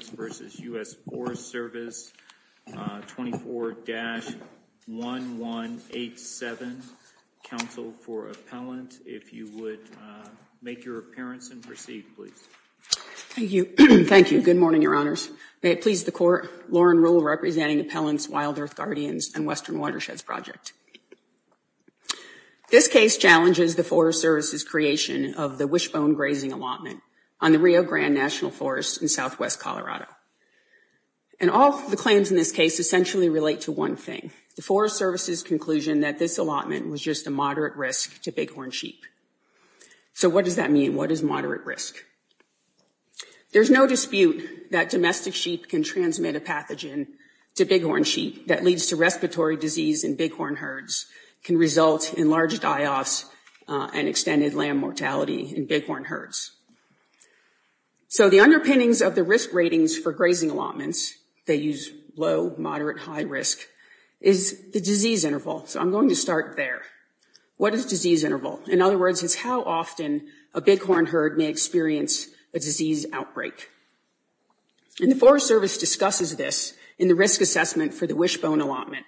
24-1187, Council for Appellant, if you would make your appearance and proceed, please. Thank you. Thank you. Good morning, Your Honors. May it please the Court, Lauren Ruhl representing Appellant's WildEarth Guardians and Western Watersheds Project. This case challenges the Forest Service's creation of the Wishbone Grazing Allotment on the Rio Grande National Forest in southwest Colorado. And all the claims in this case essentially relate to one thing, the Forest Service's conclusion that this allotment was just a moderate risk to bighorn sheep. So what does that mean? What is moderate risk? There's no dispute that domestic sheep can transmit a pathogen to bighorn sheep that leads to respiratory disease in bighorn herds, can result in large die-offs and extended lamb mortality in bighorn herds. So the underpinnings of the risk ratings for grazing allotments, they use low, moderate, high risk, is the disease interval. So I'm going to start there. What is disease interval? In other words, it's how often a bighorn herd may experience a disease outbreak. And the Forest Service discusses this in the risk assessment for the Wishbone Allotment.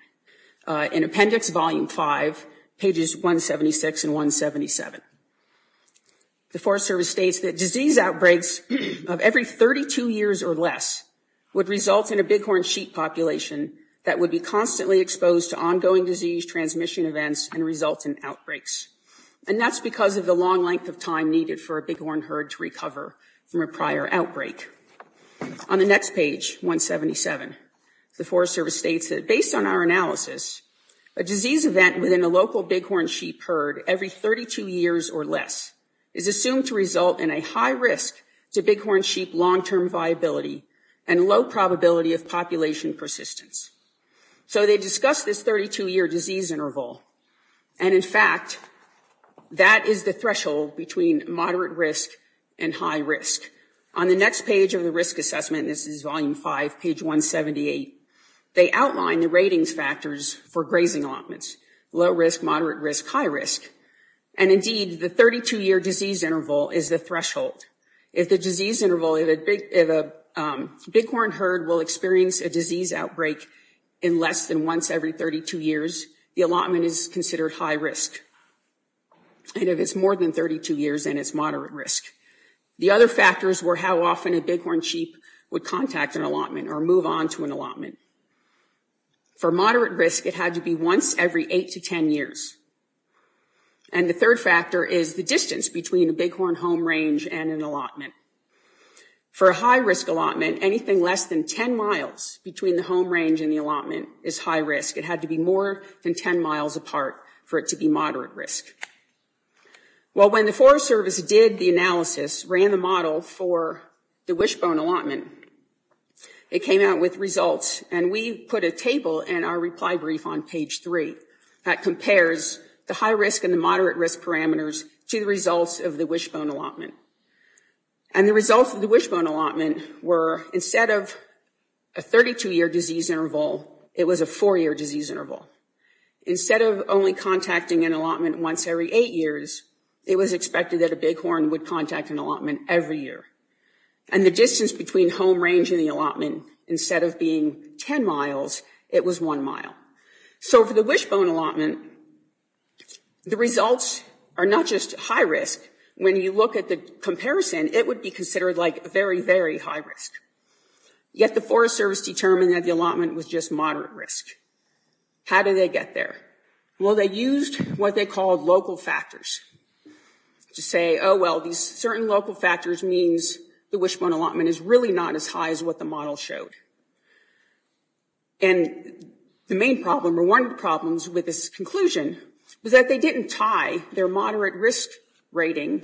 In Appendix Volume 5, pages 176 and 177. The Forest Service states that disease outbreaks of every 32 years or less would result in a bighorn sheep population that would be constantly exposed to ongoing disease transmission events and result in outbreaks. And that's because of the long length of time needed for a bighorn herd to recover from a prior outbreak. On the next page, 177, the Forest Service states that based on our analysis, a disease event within a local bighorn sheep herd every 32 years or less is assumed to result in a high risk to bighorn sheep long-term viability and low probability of population persistence. So they discuss this 32-year disease interval. And in fact, that is the threshold between moderate risk and high risk. On the next page of the risk assessment, this is Volume 5, page 178, they outline the ratings factors for grazing allotments. Low risk, moderate risk, high risk. And indeed, the 32-year disease interval is the threshold. If the disease interval of a bighorn herd will experience a disease outbreak in less than once every 32 years, the allotment is considered high risk. And if it's more than 32 years, then it's moderate risk. The other factors were how often a bighorn sheep would contact an allotment or move on to an allotment. For moderate risk, it had to be once every 8 to 10 years. And the third factor is the distance between a bighorn home range and an allotment. For a high risk allotment, anything less than 10 miles between the home range and the allotment is high risk. It had to be more than 10 miles apart for it to be moderate risk. Well, when the Forest Service did the analysis, ran the model for the wishbone allotment, it came out with results, and we put a table in our reply brief on page 3 that compares the high risk and the moderate risk parameters to the results of the wishbone allotment. And the results of the wishbone allotment were, instead of a 32-year disease interval, it was a 4-year disease interval. Instead of only contacting an allotment once every 8 years, it was expected that a bighorn would contact an allotment every year. And the distance between home range and the allotment, instead of being 10 miles, it was 1 mile. So for the wishbone allotment, the results are not just high risk. When you look at the comparison, it would be considered like very, very high risk. Yet the Forest Service determined that the allotment was just moderate risk. How did they get there? Well, they used what they called local factors to say, oh, well, these certain local factors means the wishbone allotment is really not as high as what the model showed. And the main problem, or one of the problems with this conclusion, was that they didn't tie their moderate risk rating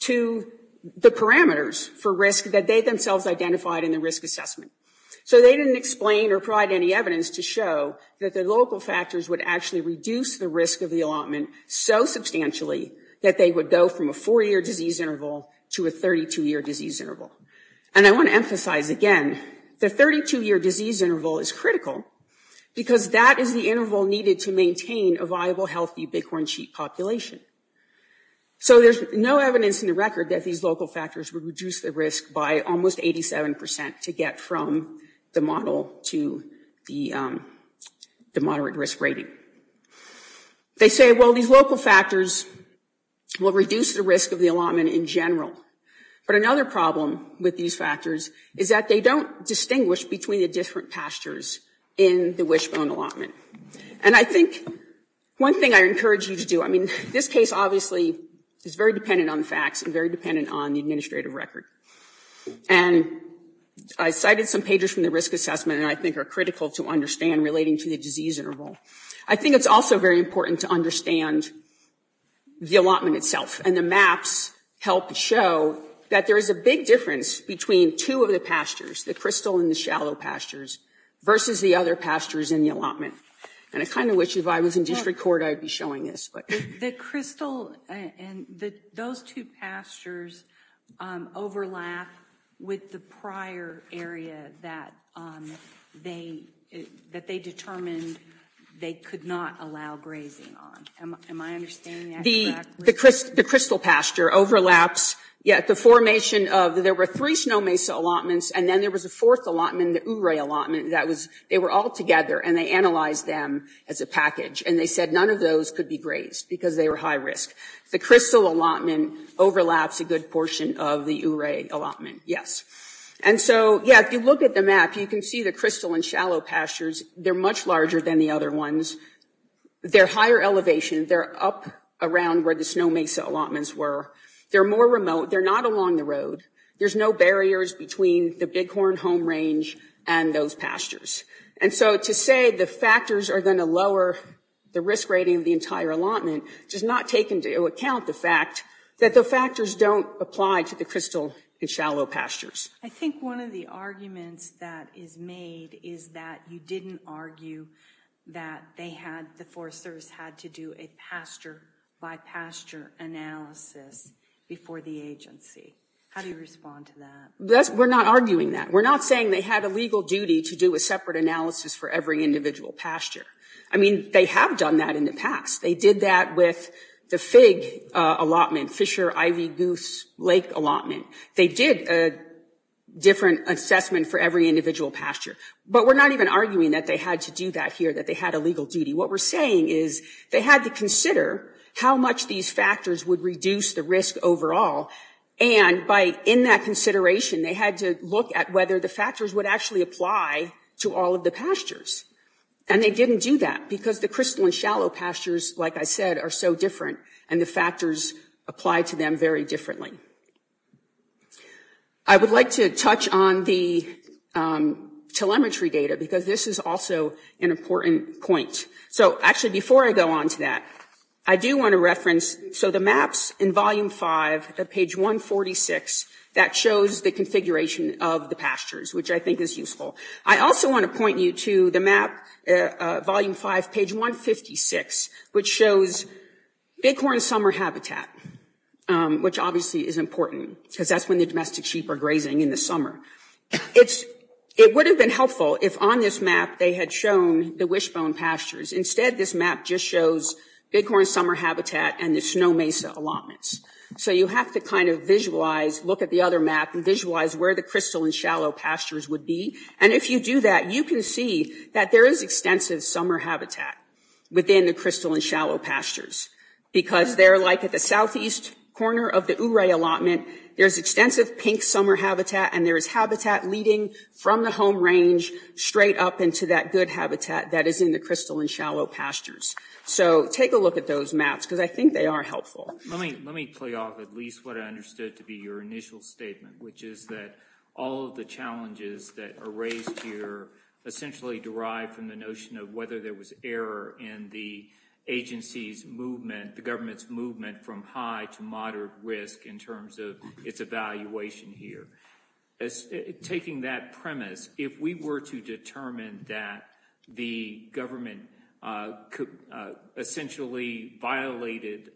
to the parameters for risk that they themselves identified in the risk assessment. So they didn't explain or provide any evidence to show that the local factors would actually reduce the risk of the allotment so substantially that they would go from a 4-year disease interval to a 32-year disease interval. And I want to emphasize again, the 32-year disease interval is critical because that is the interval needed to maintain a viable, healthy bighorn sheep population. So there's no evidence in the record that these local factors would reduce the risk by almost 87% to get from the model to the moderate risk rating. They say, well, these local factors will reduce the risk of the allotment in general. But another problem with these factors is that they don't distinguish between the different pastures in the wishbone allotment. And I think one thing I encourage you to do, I mean, this case obviously is very dependent on the facts and very dependent on the administrative record. And I cited some pages from the risk assessment that I think are critical to understand relating to the disease interval. I think it's also very important to understand the allotment itself. And the maps help show that there is a big difference between two of the pastures, the crystal and the shallow pastures, versus the other pastures in the allotment. And I kind of wish if I was in district court I would be showing this. The crystal and those two pastures overlap with the prior area that they determined they could not allow grazing on. Am I understanding that correctly? The crystal pasture overlaps yet the formation of, there were three snow mesa allotments and then there was a fourth allotment, the Ouray allotment that was, they were all together and they analyzed them as a package. And they said none of those could be grazed because they were high risk. The crystal allotment overlaps a good portion of the Ouray allotment, yes. And so, yeah, if you look at the map you can see the crystal and shallow pastures, they're much larger than the other ones. They're higher elevation. They're up around where the snow mesa allotments were. They're more remote. They're not along the road. There's no barriers between the Bighorn Home Range and those pastures. And so to say the factors are going to lower the risk rating of the entire allotment does not take into account the fact that the factors don't apply to the crystal and shallow pastures. I think one of the arguments that is made is that you didn't argue that they had, the Forest Service had to do a pasture-by-pasture analysis before the agency. How do you respond to that? We're not arguing that. We're not saying they had a legal duty to do a separate analysis for every individual pasture. I mean, they have done that in the past. They did that with the fig allotment, Fisher Ivy Goose Lake allotment. They did a different assessment for every individual pasture. But we're not even arguing that they had to do that here, that they had a legal duty. What we're saying is they had to consider how much these factors would reduce the risk overall, and in that consideration they had to look at whether the factors would actually apply to all of the pastures. And they didn't do that because the crystal and shallow pastures, like I said, are so different, and the factors apply to them very differently. I would like to touch on the telemetry data because this is also an important point. So actually before I go on to that, I do want to reference, so the maps in volume 5 at page 146, that shows the configuration of the pastures, which I think is useful. I also want to point you to the map, volume 5, page 156, which shows Bighorn Summer Habitat, which obviously is important because that's when the domestic sheep are grazing in the summer. It would have been helpful if on this map they had shown the wishbone pastures. Instead, this map just shows Bighorn Summer Habitat and the Snow Mesa allotments. So you have to kind of visualize, look at the other map and visualize where the crystal and shallow pastures would be. And if you do that, you can see that there is extensive summer habitat within the crystal and shallow pastures because they're like at the southeast corner of the Ouray allotment, there's extensive pink summer habitat, and there is habitat leading from the home range straight up into that good habitat that is in the crystal and shallow pastures. So take a look at those maps because I think they are helpful. Let me play off at least what I understood to be your initial statement, which is that all of the challenges that are raised here essentially derive from the notion of whether there was error in the agency's movement, the government's movement from high to moderate risk in terms of its evaluation here. Taking that premise, if we were to determine that the government essentially violated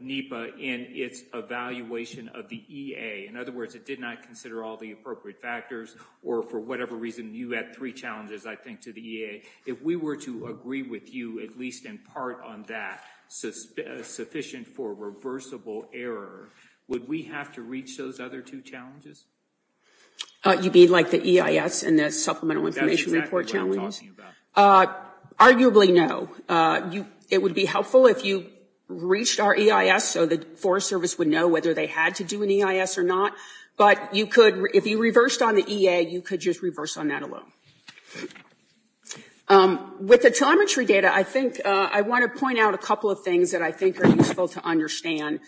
NEPA in its evaluation of the EA, in other words, it did not consider all the appropriate factors, or for whatever reason you had three challenges, I think, to the EA, if we were to agree with you at least in part on that sufficient for reversible error, would we have to reach those other two challenges? You mean like the EIS and the Supplemental Information Report challenges? That's exactly what I'm talking about. Arguably no. It would be helpful if you reached our EIS so the Forest Service would know whether they had to do an EIS or not, but if you reversed on the EA, you could just reverse on that alone. With the telemetry data, I want to point out a couple of things that I think are useful to understand.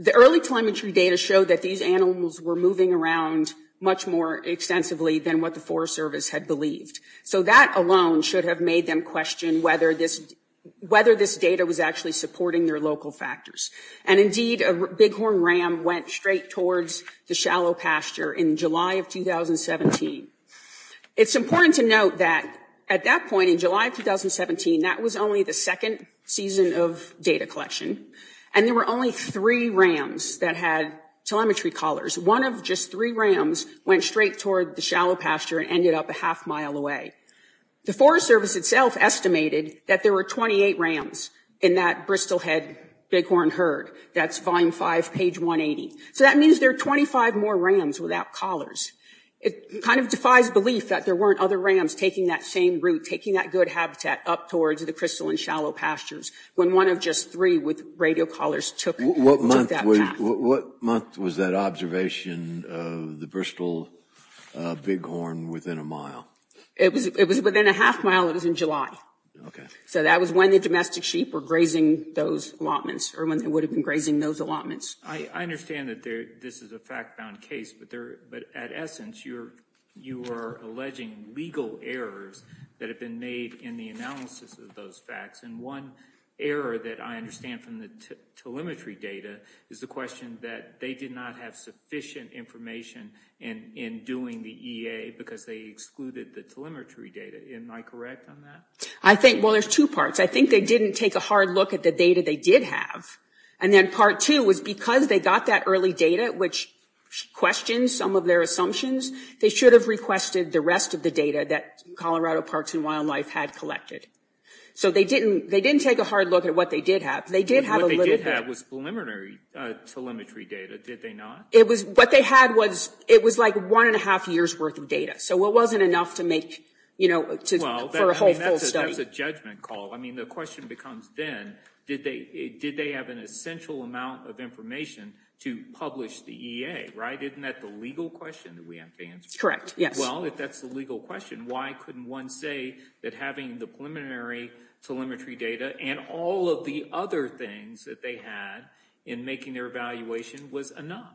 The early telemetry data showed that these animals were moving around much more extensively than what the Forest Service had believed. So that alone should have made them question whether this data was actually supporting their local factors. And indeed, a bighorn ram went straight towards the shallow pasture in July of 2017. It's important to note that at that point in July of 2017, that was only the second season of data collection, and there were only three rams that had telemetry collars. One of just three rams went straight toward the shallow pasture and ended up a half mile away. The Forest Service itself estimated that there were 28 rams in that Bristol head bighorn herd. That's volume 5, page 180. So that means there are 25 more rams without collars. It kind of defies belief that there weren't other rams taking that same route, taking that good habitat up towards the crystal and shallow pastures, when one of just three with radio collars took that path. What month was that observation of the Bristol bighorn within a mile? It was within a half mile. It was in July. So that was when the domestic sheep were grazing those allotments, or when they would have been grazing those allotments. I understand that this is a fact-bound case, but at essence, you are alleging legal errors that have been made in the analysis of those facts. And one error that I understand from the telemetry data is the question that they did not have sufficient information in doing the EA because they excluded the telemetry data. Am I correct on that? Well, there's two parts. I think they didn't take a hard look at the data they did have. And then part two was because they got that early data, which questions some of their assumptions, they should have requested the rest of the data that Colorado Parks and Wildlife had collected. So they didn't take a hard look at what they did have. What they did have was preliminary telemetry data, did they not? What they had was, it was like one and a half years worth of data. So it wasn't enough to make, you know, for a whole full study. Well, that's a judgment call. I mean, the question becomes then, did they have an essential amount of information to publish the EA, right? Isn't that the legal question that we have to answer? Correct, yes. Well, if that's the legal question, why couldn't one say that having the preliminary telemetry data and all of the other things that they had in making their evaluation was enough?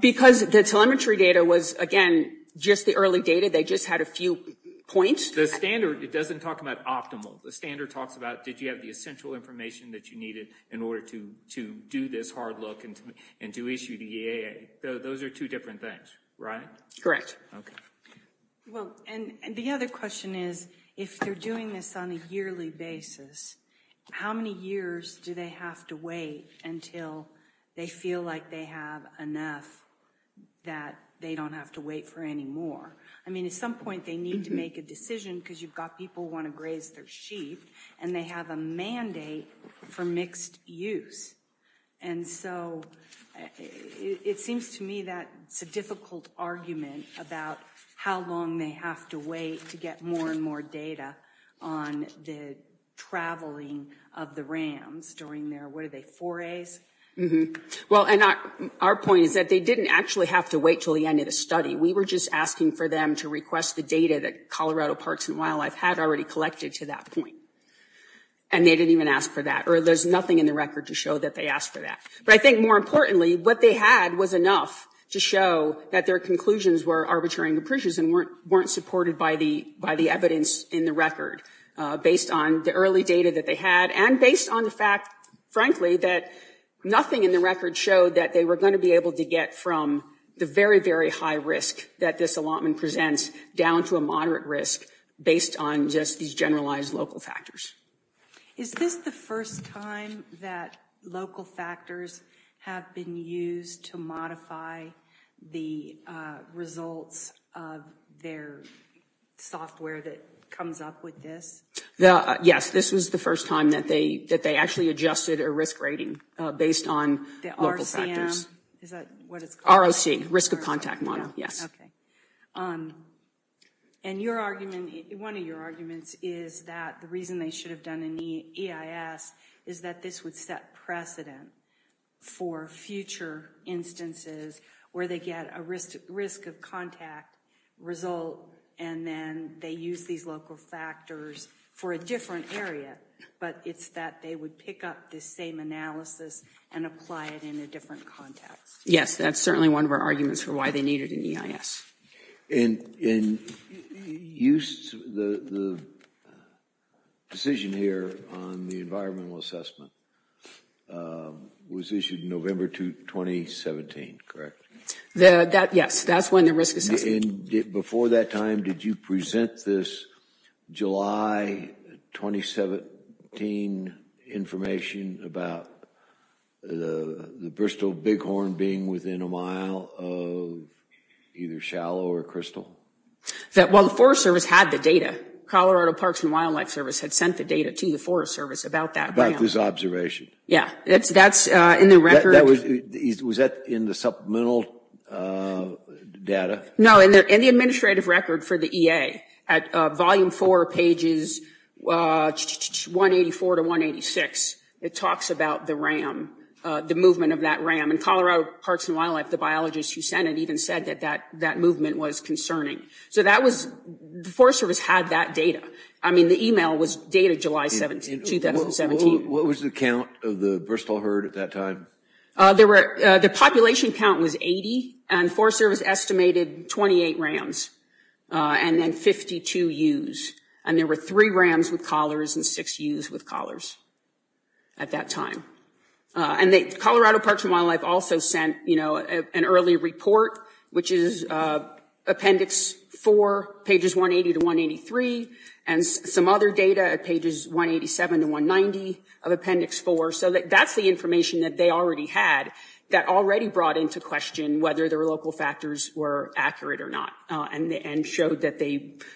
Because the telemetry data was, again, just the early data. They just had a few points. The standard, it doesn't talk about optimal. The standard talks about did you have the essential information that you needed in order to do this hard look and to issue the EA. Those are two different things, right? Correct. Well, and the other question is, if they're doing this on a yearly basis, how many years do they have to wait until they feel like they have enough that they don't have to wait for any more? I mean, at some point they need to make a decision because you've got people who want to graze their sheep, and they have a mandate for mixed use. And so it seems to me that it's a difficult argument about how long they have to wait to get more and more data on the traveling of the rams during their, what are they, forays? Well, and our point is that they didn't actually have to wait until the end of the study. We were just asking for them to request the data that Colorado Parks and Wildlife had already collected to that point, and they didn't even ask for that. Or there's nothing in the record to show that they asked for that. But I think more importantly, what they had was enough to show that their conclusions were arbitrary and capricious and weren't supported by the evidence in the record based on the early data that they had and based on the fact, frankly, that nothing in the record showed that they were going to be able to get from the very, very high risk that this allotment presents down to a moderate risk based on just these generalized local factors. Is this the first time that local factors have been used to modify the results of their software that comes up with this? Yes, this was the first time that they actually adjusted a risk rating based on local factors. The RCM? Is that what it's called? ROC, Risk of Contact Model, yes. And one of your arguments is that the reason they should have done an EIS is that this would set precedent for future instances where they get a risk of contact result and then they use these local factors for a different area, but it's that they would pick up this same analysis and apply it in a different context. Yes, that's certainly one of our arguments for why they needed an EIS. And the decision here on the environmental assessment was issued November 2017, correct? Yes, that's when the risk assessment was issued. And before that time, did you present this July 2017 information about the Bristol Bighorn being within a mile of either shallow or crystal? Well, the Forest Service had the data. Colorado Parks and Wildlife Service had sent the data to the Forest Service about that. About this observation? Yeah, that's in the record. Was that in the supplemental data? No, in the administrative record for the EA, at volume four, pages 184 to 186, it talks about the RAM, the movement of that RAM. And Colorado Parks and Wildlife, the biologist who sent it, even said that that movement was concerning. So that was, the Forest Service had that data. I mean, the email was dated July 2017. What was the count of the Bristol herd at that time? The population count was 80, and Forest Service estimated 28 RAMs, and then 52 ewes. And there were three RAMs with collars and six ewes with collars at that time. And Colorado Parks and Wildlife also sent an early report, which is appendix four, pages 180 to 183, and some other data at pages 187 to 190 of appendix four. So that's the information that they already had, that already brought into question whether their local factors were accurate or not, and showed that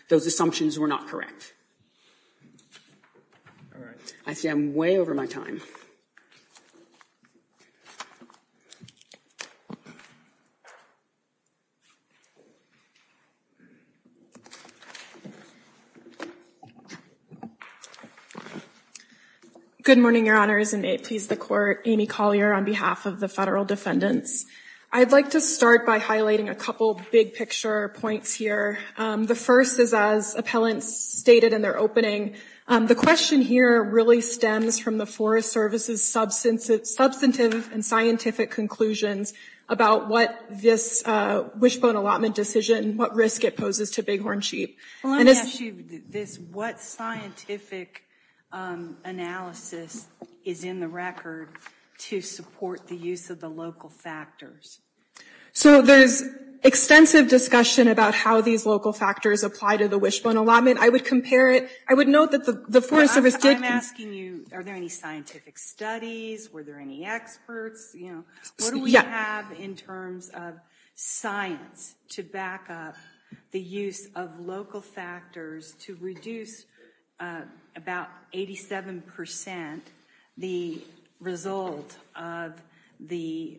those assumptions were not correct. I see I'm way over my time. Good morning, Your Honors, and may it please the Court, Amy Collier on behalf of the federal defendants. I'd like to start by highlighting a couple big picture points here. The first is as appellants stated in their opening. The question here really stems from the Forest Service's substantive and scientific conclusions about what this wishbone allotment decision, what risk it poses to bighorn sheep. Well, let me ask you this. What scientific analysis is in the record to support the use of the local factors? So there's extensive discussion about how these local factors apply to the wishbone allotment. I would compare it. I would note that the Forest Service did... I'm asking you, are there any scientific studies? Were there any experts? What do we have in terms of science to back up the use of local factors to reduce about 87% the result of the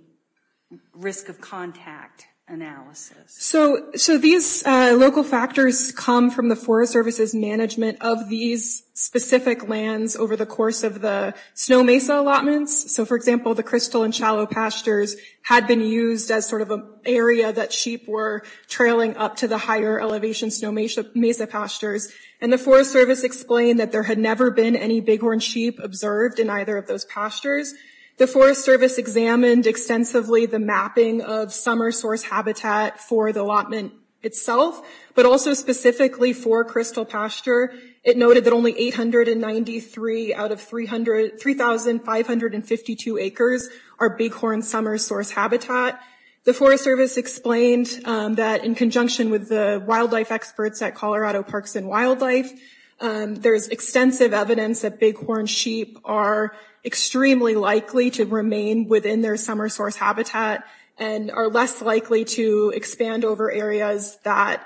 risk of contact analysis? So these local factors come from the Forest Service's management of these specific lands over the course of the snow mesa allotments. So, for example, the crystal and shallow pastures had been used as sort of an area that sheep were trailing up to the higher elevation snow mesa pastures. And the Forest Service explained that there had never been any bighorn sheep observed in either of those pastures. The Forest Service examined extensively the mapping of summer source habitat for the allotment itself, but also specifically for crystal pasture. It noted that only 893 out of 3,552 acres are bighorn summer source habitat. The Forest Service explained that in conjunction with the wildlife experts at Colorado Parks and Wildlife, there's extensive evidence that bighorn sheep are extremely likely to remain within their summer source habitat and are less likely to expand over areas that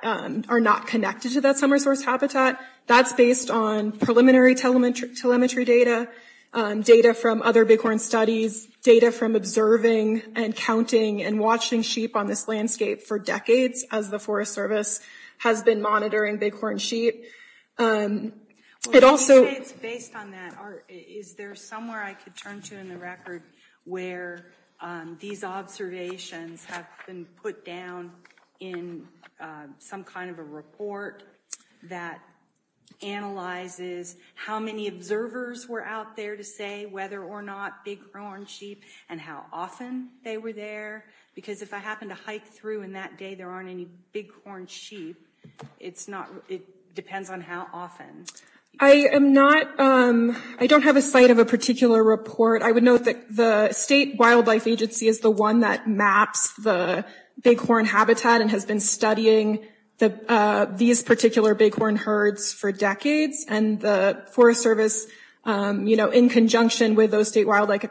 are not connected to that summer source habitat. That's based on preliminary telemetry data, data from other bighorn studies, data from observing and counting and watching sheep on this landscape for decades as the Forest Service has been monitoring bighorn sheep. It also... Based on that, is there somewhere I could turn to in the record where these observations have been put down in some kind of a report that analyzes how many observers were out there to say whether or not bighorn sheep and how often they were there? Because if I happen to hike through and that day there aren't any bighorn sheep, it depends on how often. I don't have a site of a particular report. I would note that the State Wildlife Agency is the one that maps the bighorn habitat and has been studying these particular bighorn herds for decades. And the Forest Service, in conjunction with those state wildlife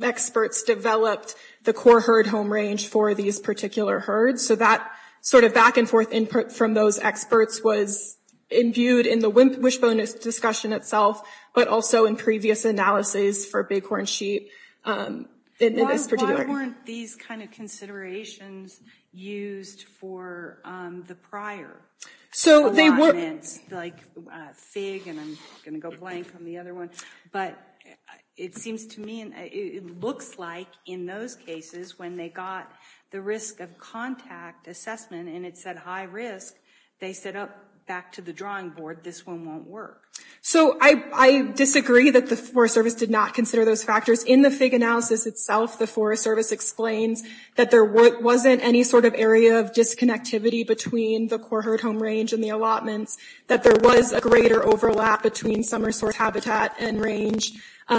experts, developed the core herd home range for these particular herds. So that sort of back-and-forth input from those experts was imbued in the wishbone discussion itself, but also in previous analyses for bighorn sheep in this particular... There weren't these kind of considerations used for the prior allotments, like FIG, and I'm going to go blank on the other one. But it seems to me, it looks like in those cases, when they got the risk of contact assessment and it said high risk, they said, oh, back to the drawing board, this one won't work. So I disagree that the Forest Service did not consider those factors. In the FIG analysis itself, the Forest Service explains that there wasn't any sort of area of disconnectivity between the core herd home range and the allotments, that there was a greater overlap between summer source habitat and range.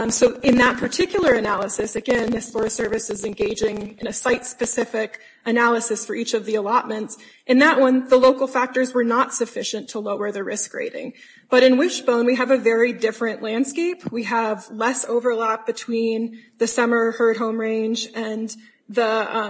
So in that particular analysis, again, the Forest Service is engaging in a site-specific analysis for each of the allotments. In that one, the local factors were not sufficient to lower the risk rating. But in wishbone, we have a very different landscape. We have less overlap between the summer herd home range and the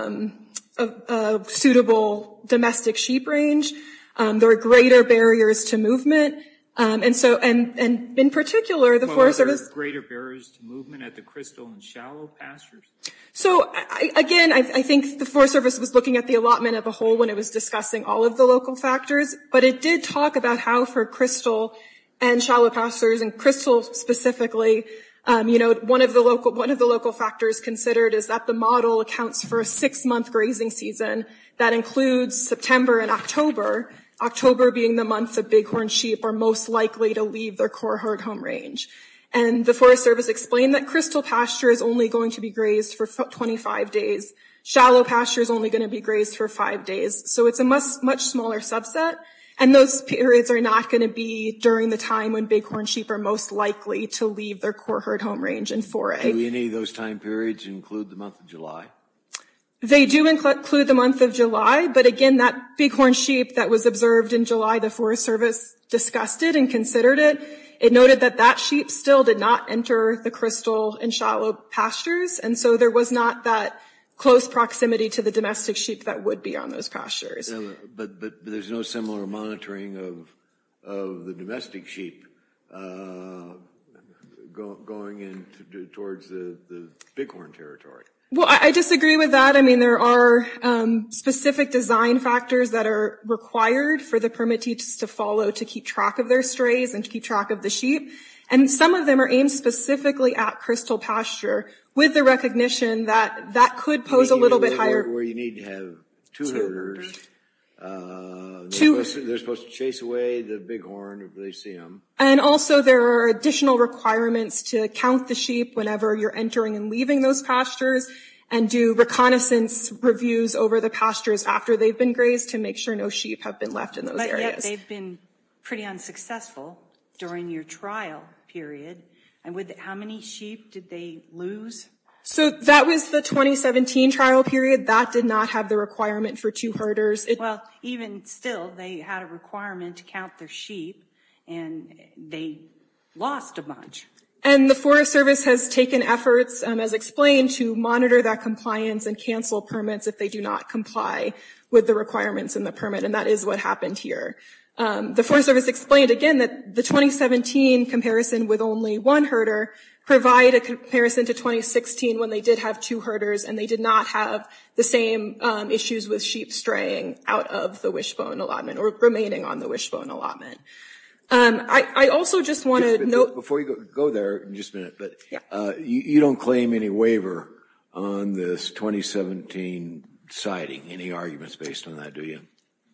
suitable domestic sheep range. There are greater barriers to movement. And in particular, the Forest Service... Are there greater barriers to movement at the crystal and shallow pastures? So, again, I think the Forest Service was looking at the allotment of a hole when it was discussing all of the local factors. But it did talk about how for crystal and shallow pastures, and crystal specifically, you know, one of the local factors considered is that the model accounts for a six-month grazing season. That includes September and October. October being the month that bighorn sheep are most likely to leave their core herd home range. And the Forest Service explained that crystal pasture is only going to be grazed for 25 days. Shallow pasture is only going to be grazed for five days. So it's a much smaller subset. And those periods are not going to be during the time when bighorn sheep are most likely to leave their core herd home range and foray. Do any of those time periods include the month of July? They do include the month of July. But, again, that bighorn sheep that was observed in July, the Forest Service discussed it and considered it. It noted that that sheep still did not enter the crystal and shallow pastures. And so there was not that close proximity to the domestic sheep that would be on those pastures. But there's no similar monitoring of the domestic sheep going in towards the bighorn territory. Well, I disagree with that. I mean, there are specific design factors that are required for the permittees to follow to keep track of their strays and to keep track of the sheep. And some of them are aimed specifically at crystal pasture with the recognition that that could pose a little bit higher. Where you need to have two herders. They're supposed to chase away the bighorn if they see them. And also there are additional requirements to count the sheep whenever you're entering and leaving those pastures and do reconnaissance reviews over the pastures after they've been grazed to make sure no sheep have been left in those areas. They've been pretty unsuccessful during your trial period. And how many sheep did they lose? So that was the 2017 trial period. That did not have the requirement for two herders. Well, even still, they had a requirement to count their sheep. And they lost a bunch. And the Forest Service has taken efforts, as explained, to monitor that compliance and cancel permits if they do not comply with the requirements in the permit. And that is what happened here. The Forest Service explained, again, that the 2017 comparison with only one herder provide a comparison to 2016 when they did have two herders and they did not have the same issues with sheep straying out of the wishbone allotment or remaining on the wishbone allotment. I also just want to note... Go there in just a minute. You don't claim any waiver on this 2017 sighting. Any arguments based on that, do you?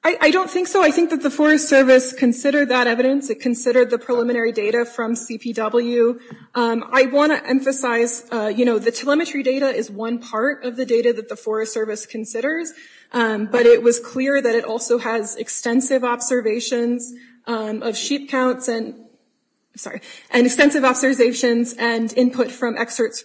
I don't think so. I think that the Forest Service considered that evidence. It considered the preliminary data from CPW. I want to emphasize, you know, the telemetry data is one part of the data that the Forest Service considers, but it was clear that it also has extensive observations of sheep counts and extensive observations and input from experts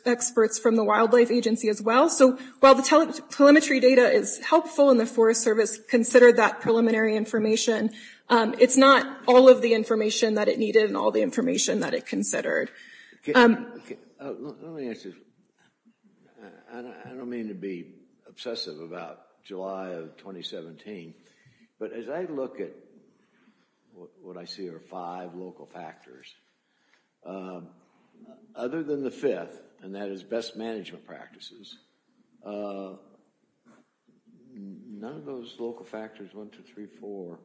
from the Wildlife Agency as well. So while the telemetry data is helpful and the Forest Service considered that preliminary information, it's not all of the information that it needed and all the information that it considered. Let me ask you this. I don't mean to be obsessive about July of 2017, but as I look at what I see are five local factors, other than the fifth, and that is best management practices, none of those local factors, one, two, three, four,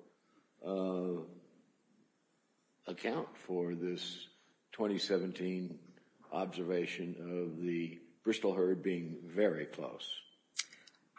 account for this 2017 observation of the Bristol herd being very close.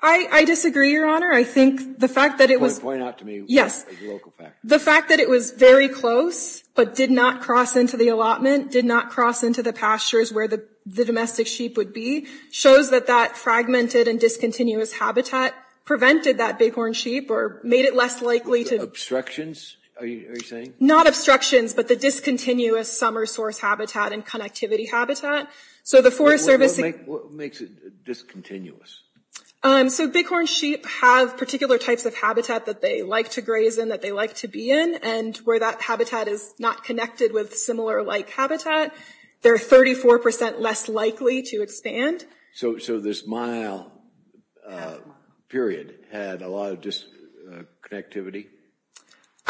I disagree, Your Honor. I think the fact that it was... Point out to me the local factors. The fact that it was very close, but did not cross into the allotment, did not cross into the pastures where the domestic sheep would be, shows that that fragmented and discontinuous habitat prevented that bighorn sheep or made it less likely to... Obstructions, are you saying? Not obstructions, but the discontinuous summer source habitat and connectivity habitat. So the Forest Service... What makes it discontinuous? So bighorn sheep have particular types of habitat that they like to graze in, that they like to be in, and where that habitat is not connected with similar-like habitat, they're 34% less likely to expand. So this mile period had a lot of disconnectivity?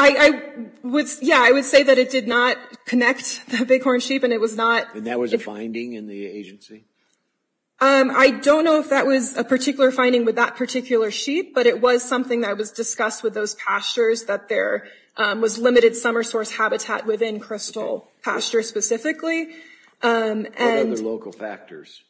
Yeah, I would say that it did not connect the bighorn sheep and it was not... And that was a finding in the agency? I don't know if that was a particular finding with that particular sheep, but it was something that was discussed with those pastures, that there was limited summer source habitat within crystal pastures specifically. What other local factors?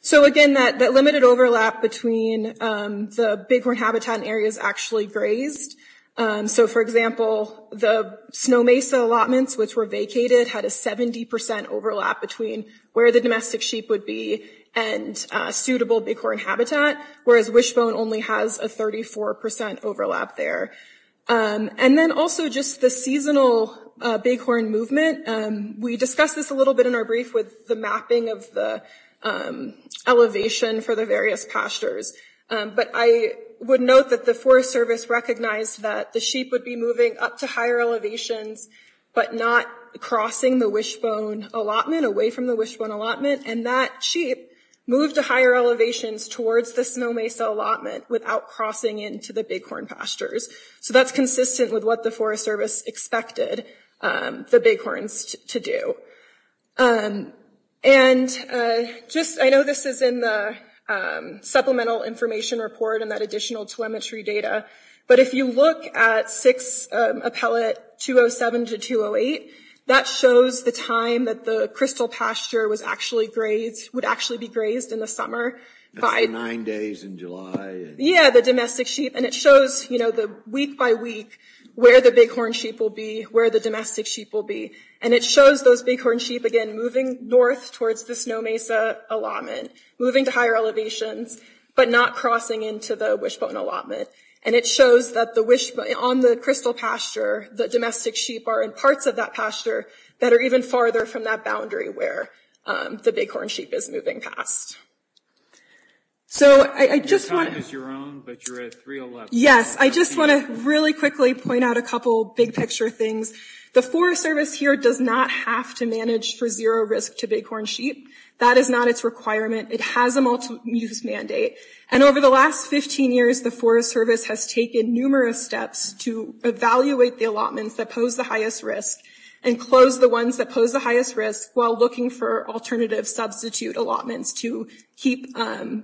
So again, that limited overlap between the bighorn habitat and areas actually grazed. So for example, the Snow Mesa allotments, which were vacated, had a 70% overlap between where the domestic sheep would be and suitable bighorn habitat, whereas Wishbone only has a 34% overlap there. And then also just the seasonal bighorn movement. We discussed this a little bit in our brief with the mapping of the elevation for the various pastures. But I would note that the Forest Service recognized that the sheep would be moving up to higher elevations, but not crossing the Wishbone allotment, away from the Wishbone allotment, and that sheep moved to higher elevations towards the Snow Mesa allotment without crossing into the bighorn pastures. So that's consistent with what the Forest Service expected the bighorns to do. And I know this is in the supplemental information report and that additional telemetry data, but if you look at 6 Appellate 207 to 208, that shows the time that the crystal pasture would actually be grazed in the summer. That's the nine days in July. Yeah, the domestic sheep. And it shows week by week where the bighorn sheep will be, where the domestic sheep will be. And it shows those bighorn sheep, again, moving north towards the Snow Mesa allotment, moving to higher elevations, but not crossing into the Wishbone allotment. And it shows that the Wishbone, on the crystal pasture, the domestic sheep are in parts of that pasture that are even farther from that boundary where the bighorn sheep is moving past. So I just want to- Your time is your own, but you're at 311. Yes, I just want to really quickly point out a couple big picture things. The Forest Service here does not have to manage for zero risk to bighorn sheep. That is not its requirement. It has a multi-use mandate. And over the last 15 years, the Forest Service has taken numerous steps to evaluate the allotments that pose the highest risk and close the ones that pose the highest risk while looking for alternative substitute allotments to keep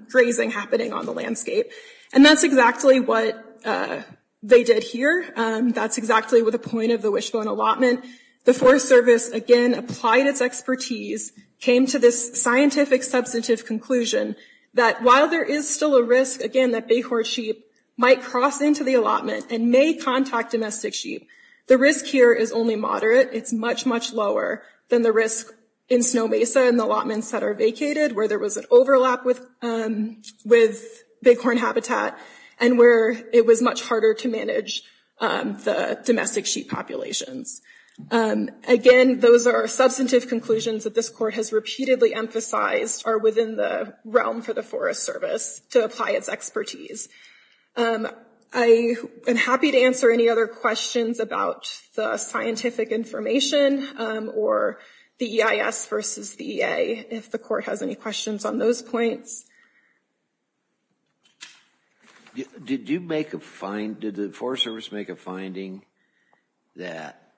grazing happening on the landscape. And that's exactly what they did here. That's exactly what the point of the Wishbone allotment. The Forest Service, again, applied its expertise, came to this scientific substantive conclusion that while there is still a risk, again, that bighorn sheep might cross into the allotment and may contact domestic sheep, the risk here is only moderate. It's much, much lower than the risk in Snow Mesa and the allotments that are vacated where there was an overlap with bighorn habitat and where it was much harder to manage the domestic sheep populations. Again, those are substantive conclusions that this court has repeatedly emphasized are within the realm for the Forest Service to apply its expertise. I am happy to answer any other questions about the scientific information or the EIS versus the EA if the court has any questions on those points. Did the Forest Service make a finding that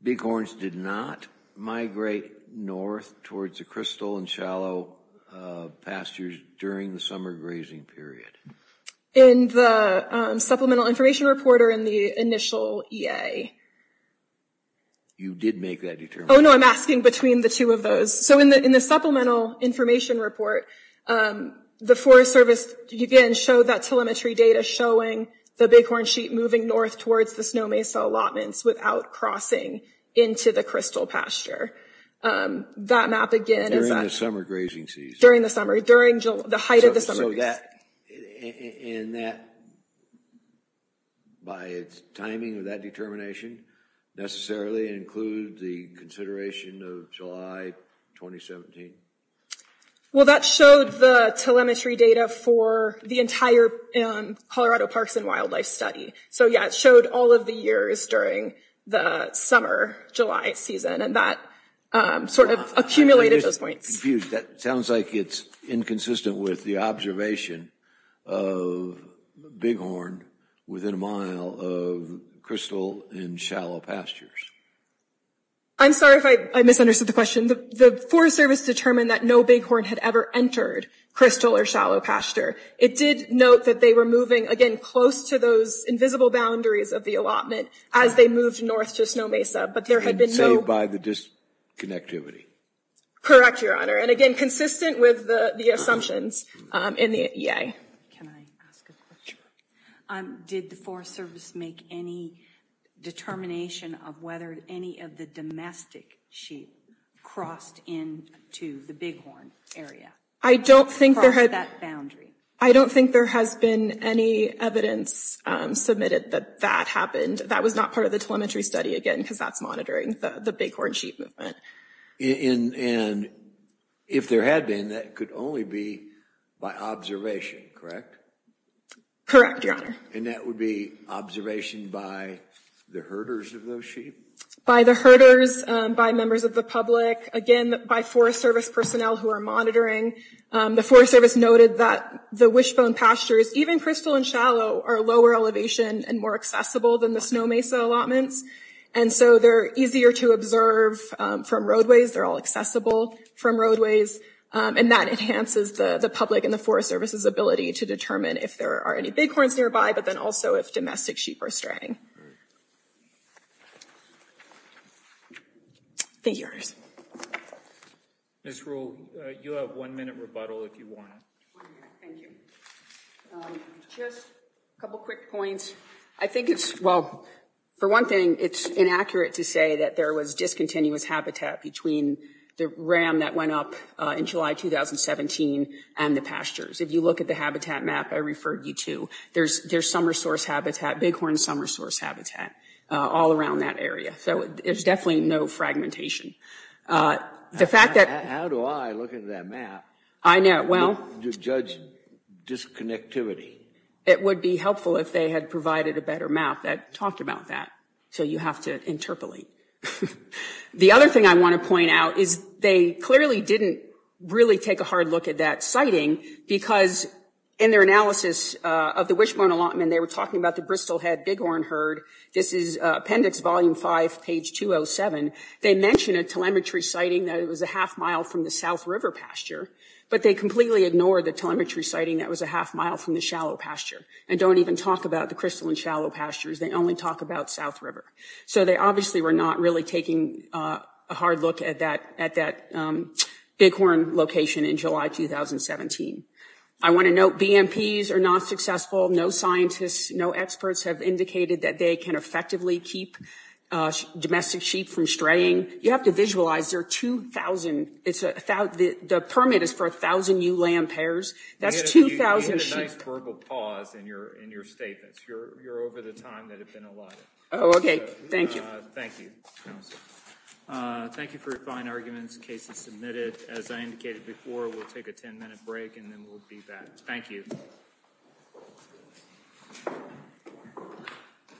bighorns did not migrate north towards the crystal and shallow pastures during the summer grazing period? In the supplemental information report or in the initial EA? You did make that determination. Oh, no, I'm asking between the two of those. So in the supplemental information report, the Forest Service, again, showed that telemetry data showing the bighorn sheep moving north towards the Snow Mesa allotments without crossing into the crystal pasture. That map, again, is not... During the summer grazing season. During the summer, during the height of the summer grazing season. And that, by its timing of that determination, necessarily include the consideration of July 2017? Well, that showed the telemetry data for the entire Colorado Parks and Wildlife study. So, yeah, it showed all of the years during the summer July season and that sort of accumulated those points. That sounds like it's inconsistent with the observation of bighorn within a mile of crystal and shallow pastures. I'm sorry if I misunderstood the question. The Forest Service determined that no bighorn had ever entered crystal or shallow pasture. It did note that they were moving, again, close to those invisible boundaries of the allotment as they moved north to Snow Mesa, but there had been no... Saved by the disconnectivity. Correct, Your Honor. And, again, consistent with the assumptions in the EA. Can I ask a question? Did the Forest Service make any determination of whether any of the domestic sheep crossed into the bighorn area? I don't think there had... I don't think there has been any evidence submitted that that happened. That was not part of the telemetry study, again, because that's monitoring the bighorn sheep movement. And if there had been, that could only be by observation, correct? Correct, Your Honor. And that would be observation by the herders of those sheep? By the herders, by members of the public, again, by Forest Service personnel who are monitoring. The Forest Service noted that the wishbone pastures, even crystal and shallow, are lower elevation and more accessible than the Snow Mesa allotments, and so they're easier to observe from roadways. They're all accessible from roadways, and that enhances the public and the Forest Service's ability to determine if there are any bighorns nearby, but then also if domestic sheep are straying. Thank you, Your Honor. Ms. Rule, you have one minute rebuttal if you want. One minute, thank you. Just a couple quick points. I think it's, well, for one thing, it's inaccurate to say that there was discontinuous habitat between the ram that went up in July 2017 and the pastures. If you look at the habitat map I referred you to, there's summer source habitat, bighorn summer source habitat, all around that area. So there's definitely no fragmentation. How do I look at that map to judge disconnectivity? It would be helpful if they had provided a better map that talked about that, so you have to interpolate. The other thing I want to point out is they clearly didn't really take a hard look at that sighting because in their analysis of the Wishbone allotment, they were talking about the Bristol Head bighorn herd. This is Appendix Volume 5, page 207. They mentioned a telemetry sighting that it was a half mile from the South River pasture, but they completely ignored the telemetry sighting that was a half mile from the shallow pasture and don't even talk about the crystalline shallow pastures. They only talk about South River. So they obviously were not really taking a hard look at that bighorn location in July 2017. I want to note BMPs are not successful. No scientists, no experts have indicated that they can effectively keep domestic sheep from straying. You have to visualize there are 2,000. The permit is for 1,000 ewe lamb pairs. That's 2,000 sheep. You need a nice verbal pause in your statements. You're over the time that it's been allotted. Oh, okay. Thank you. Thank you, counsel. Thank you for your fine arguments, cases submitted. As I indicated before, we'll take a 10-minute break and then we'll be back. Thank you.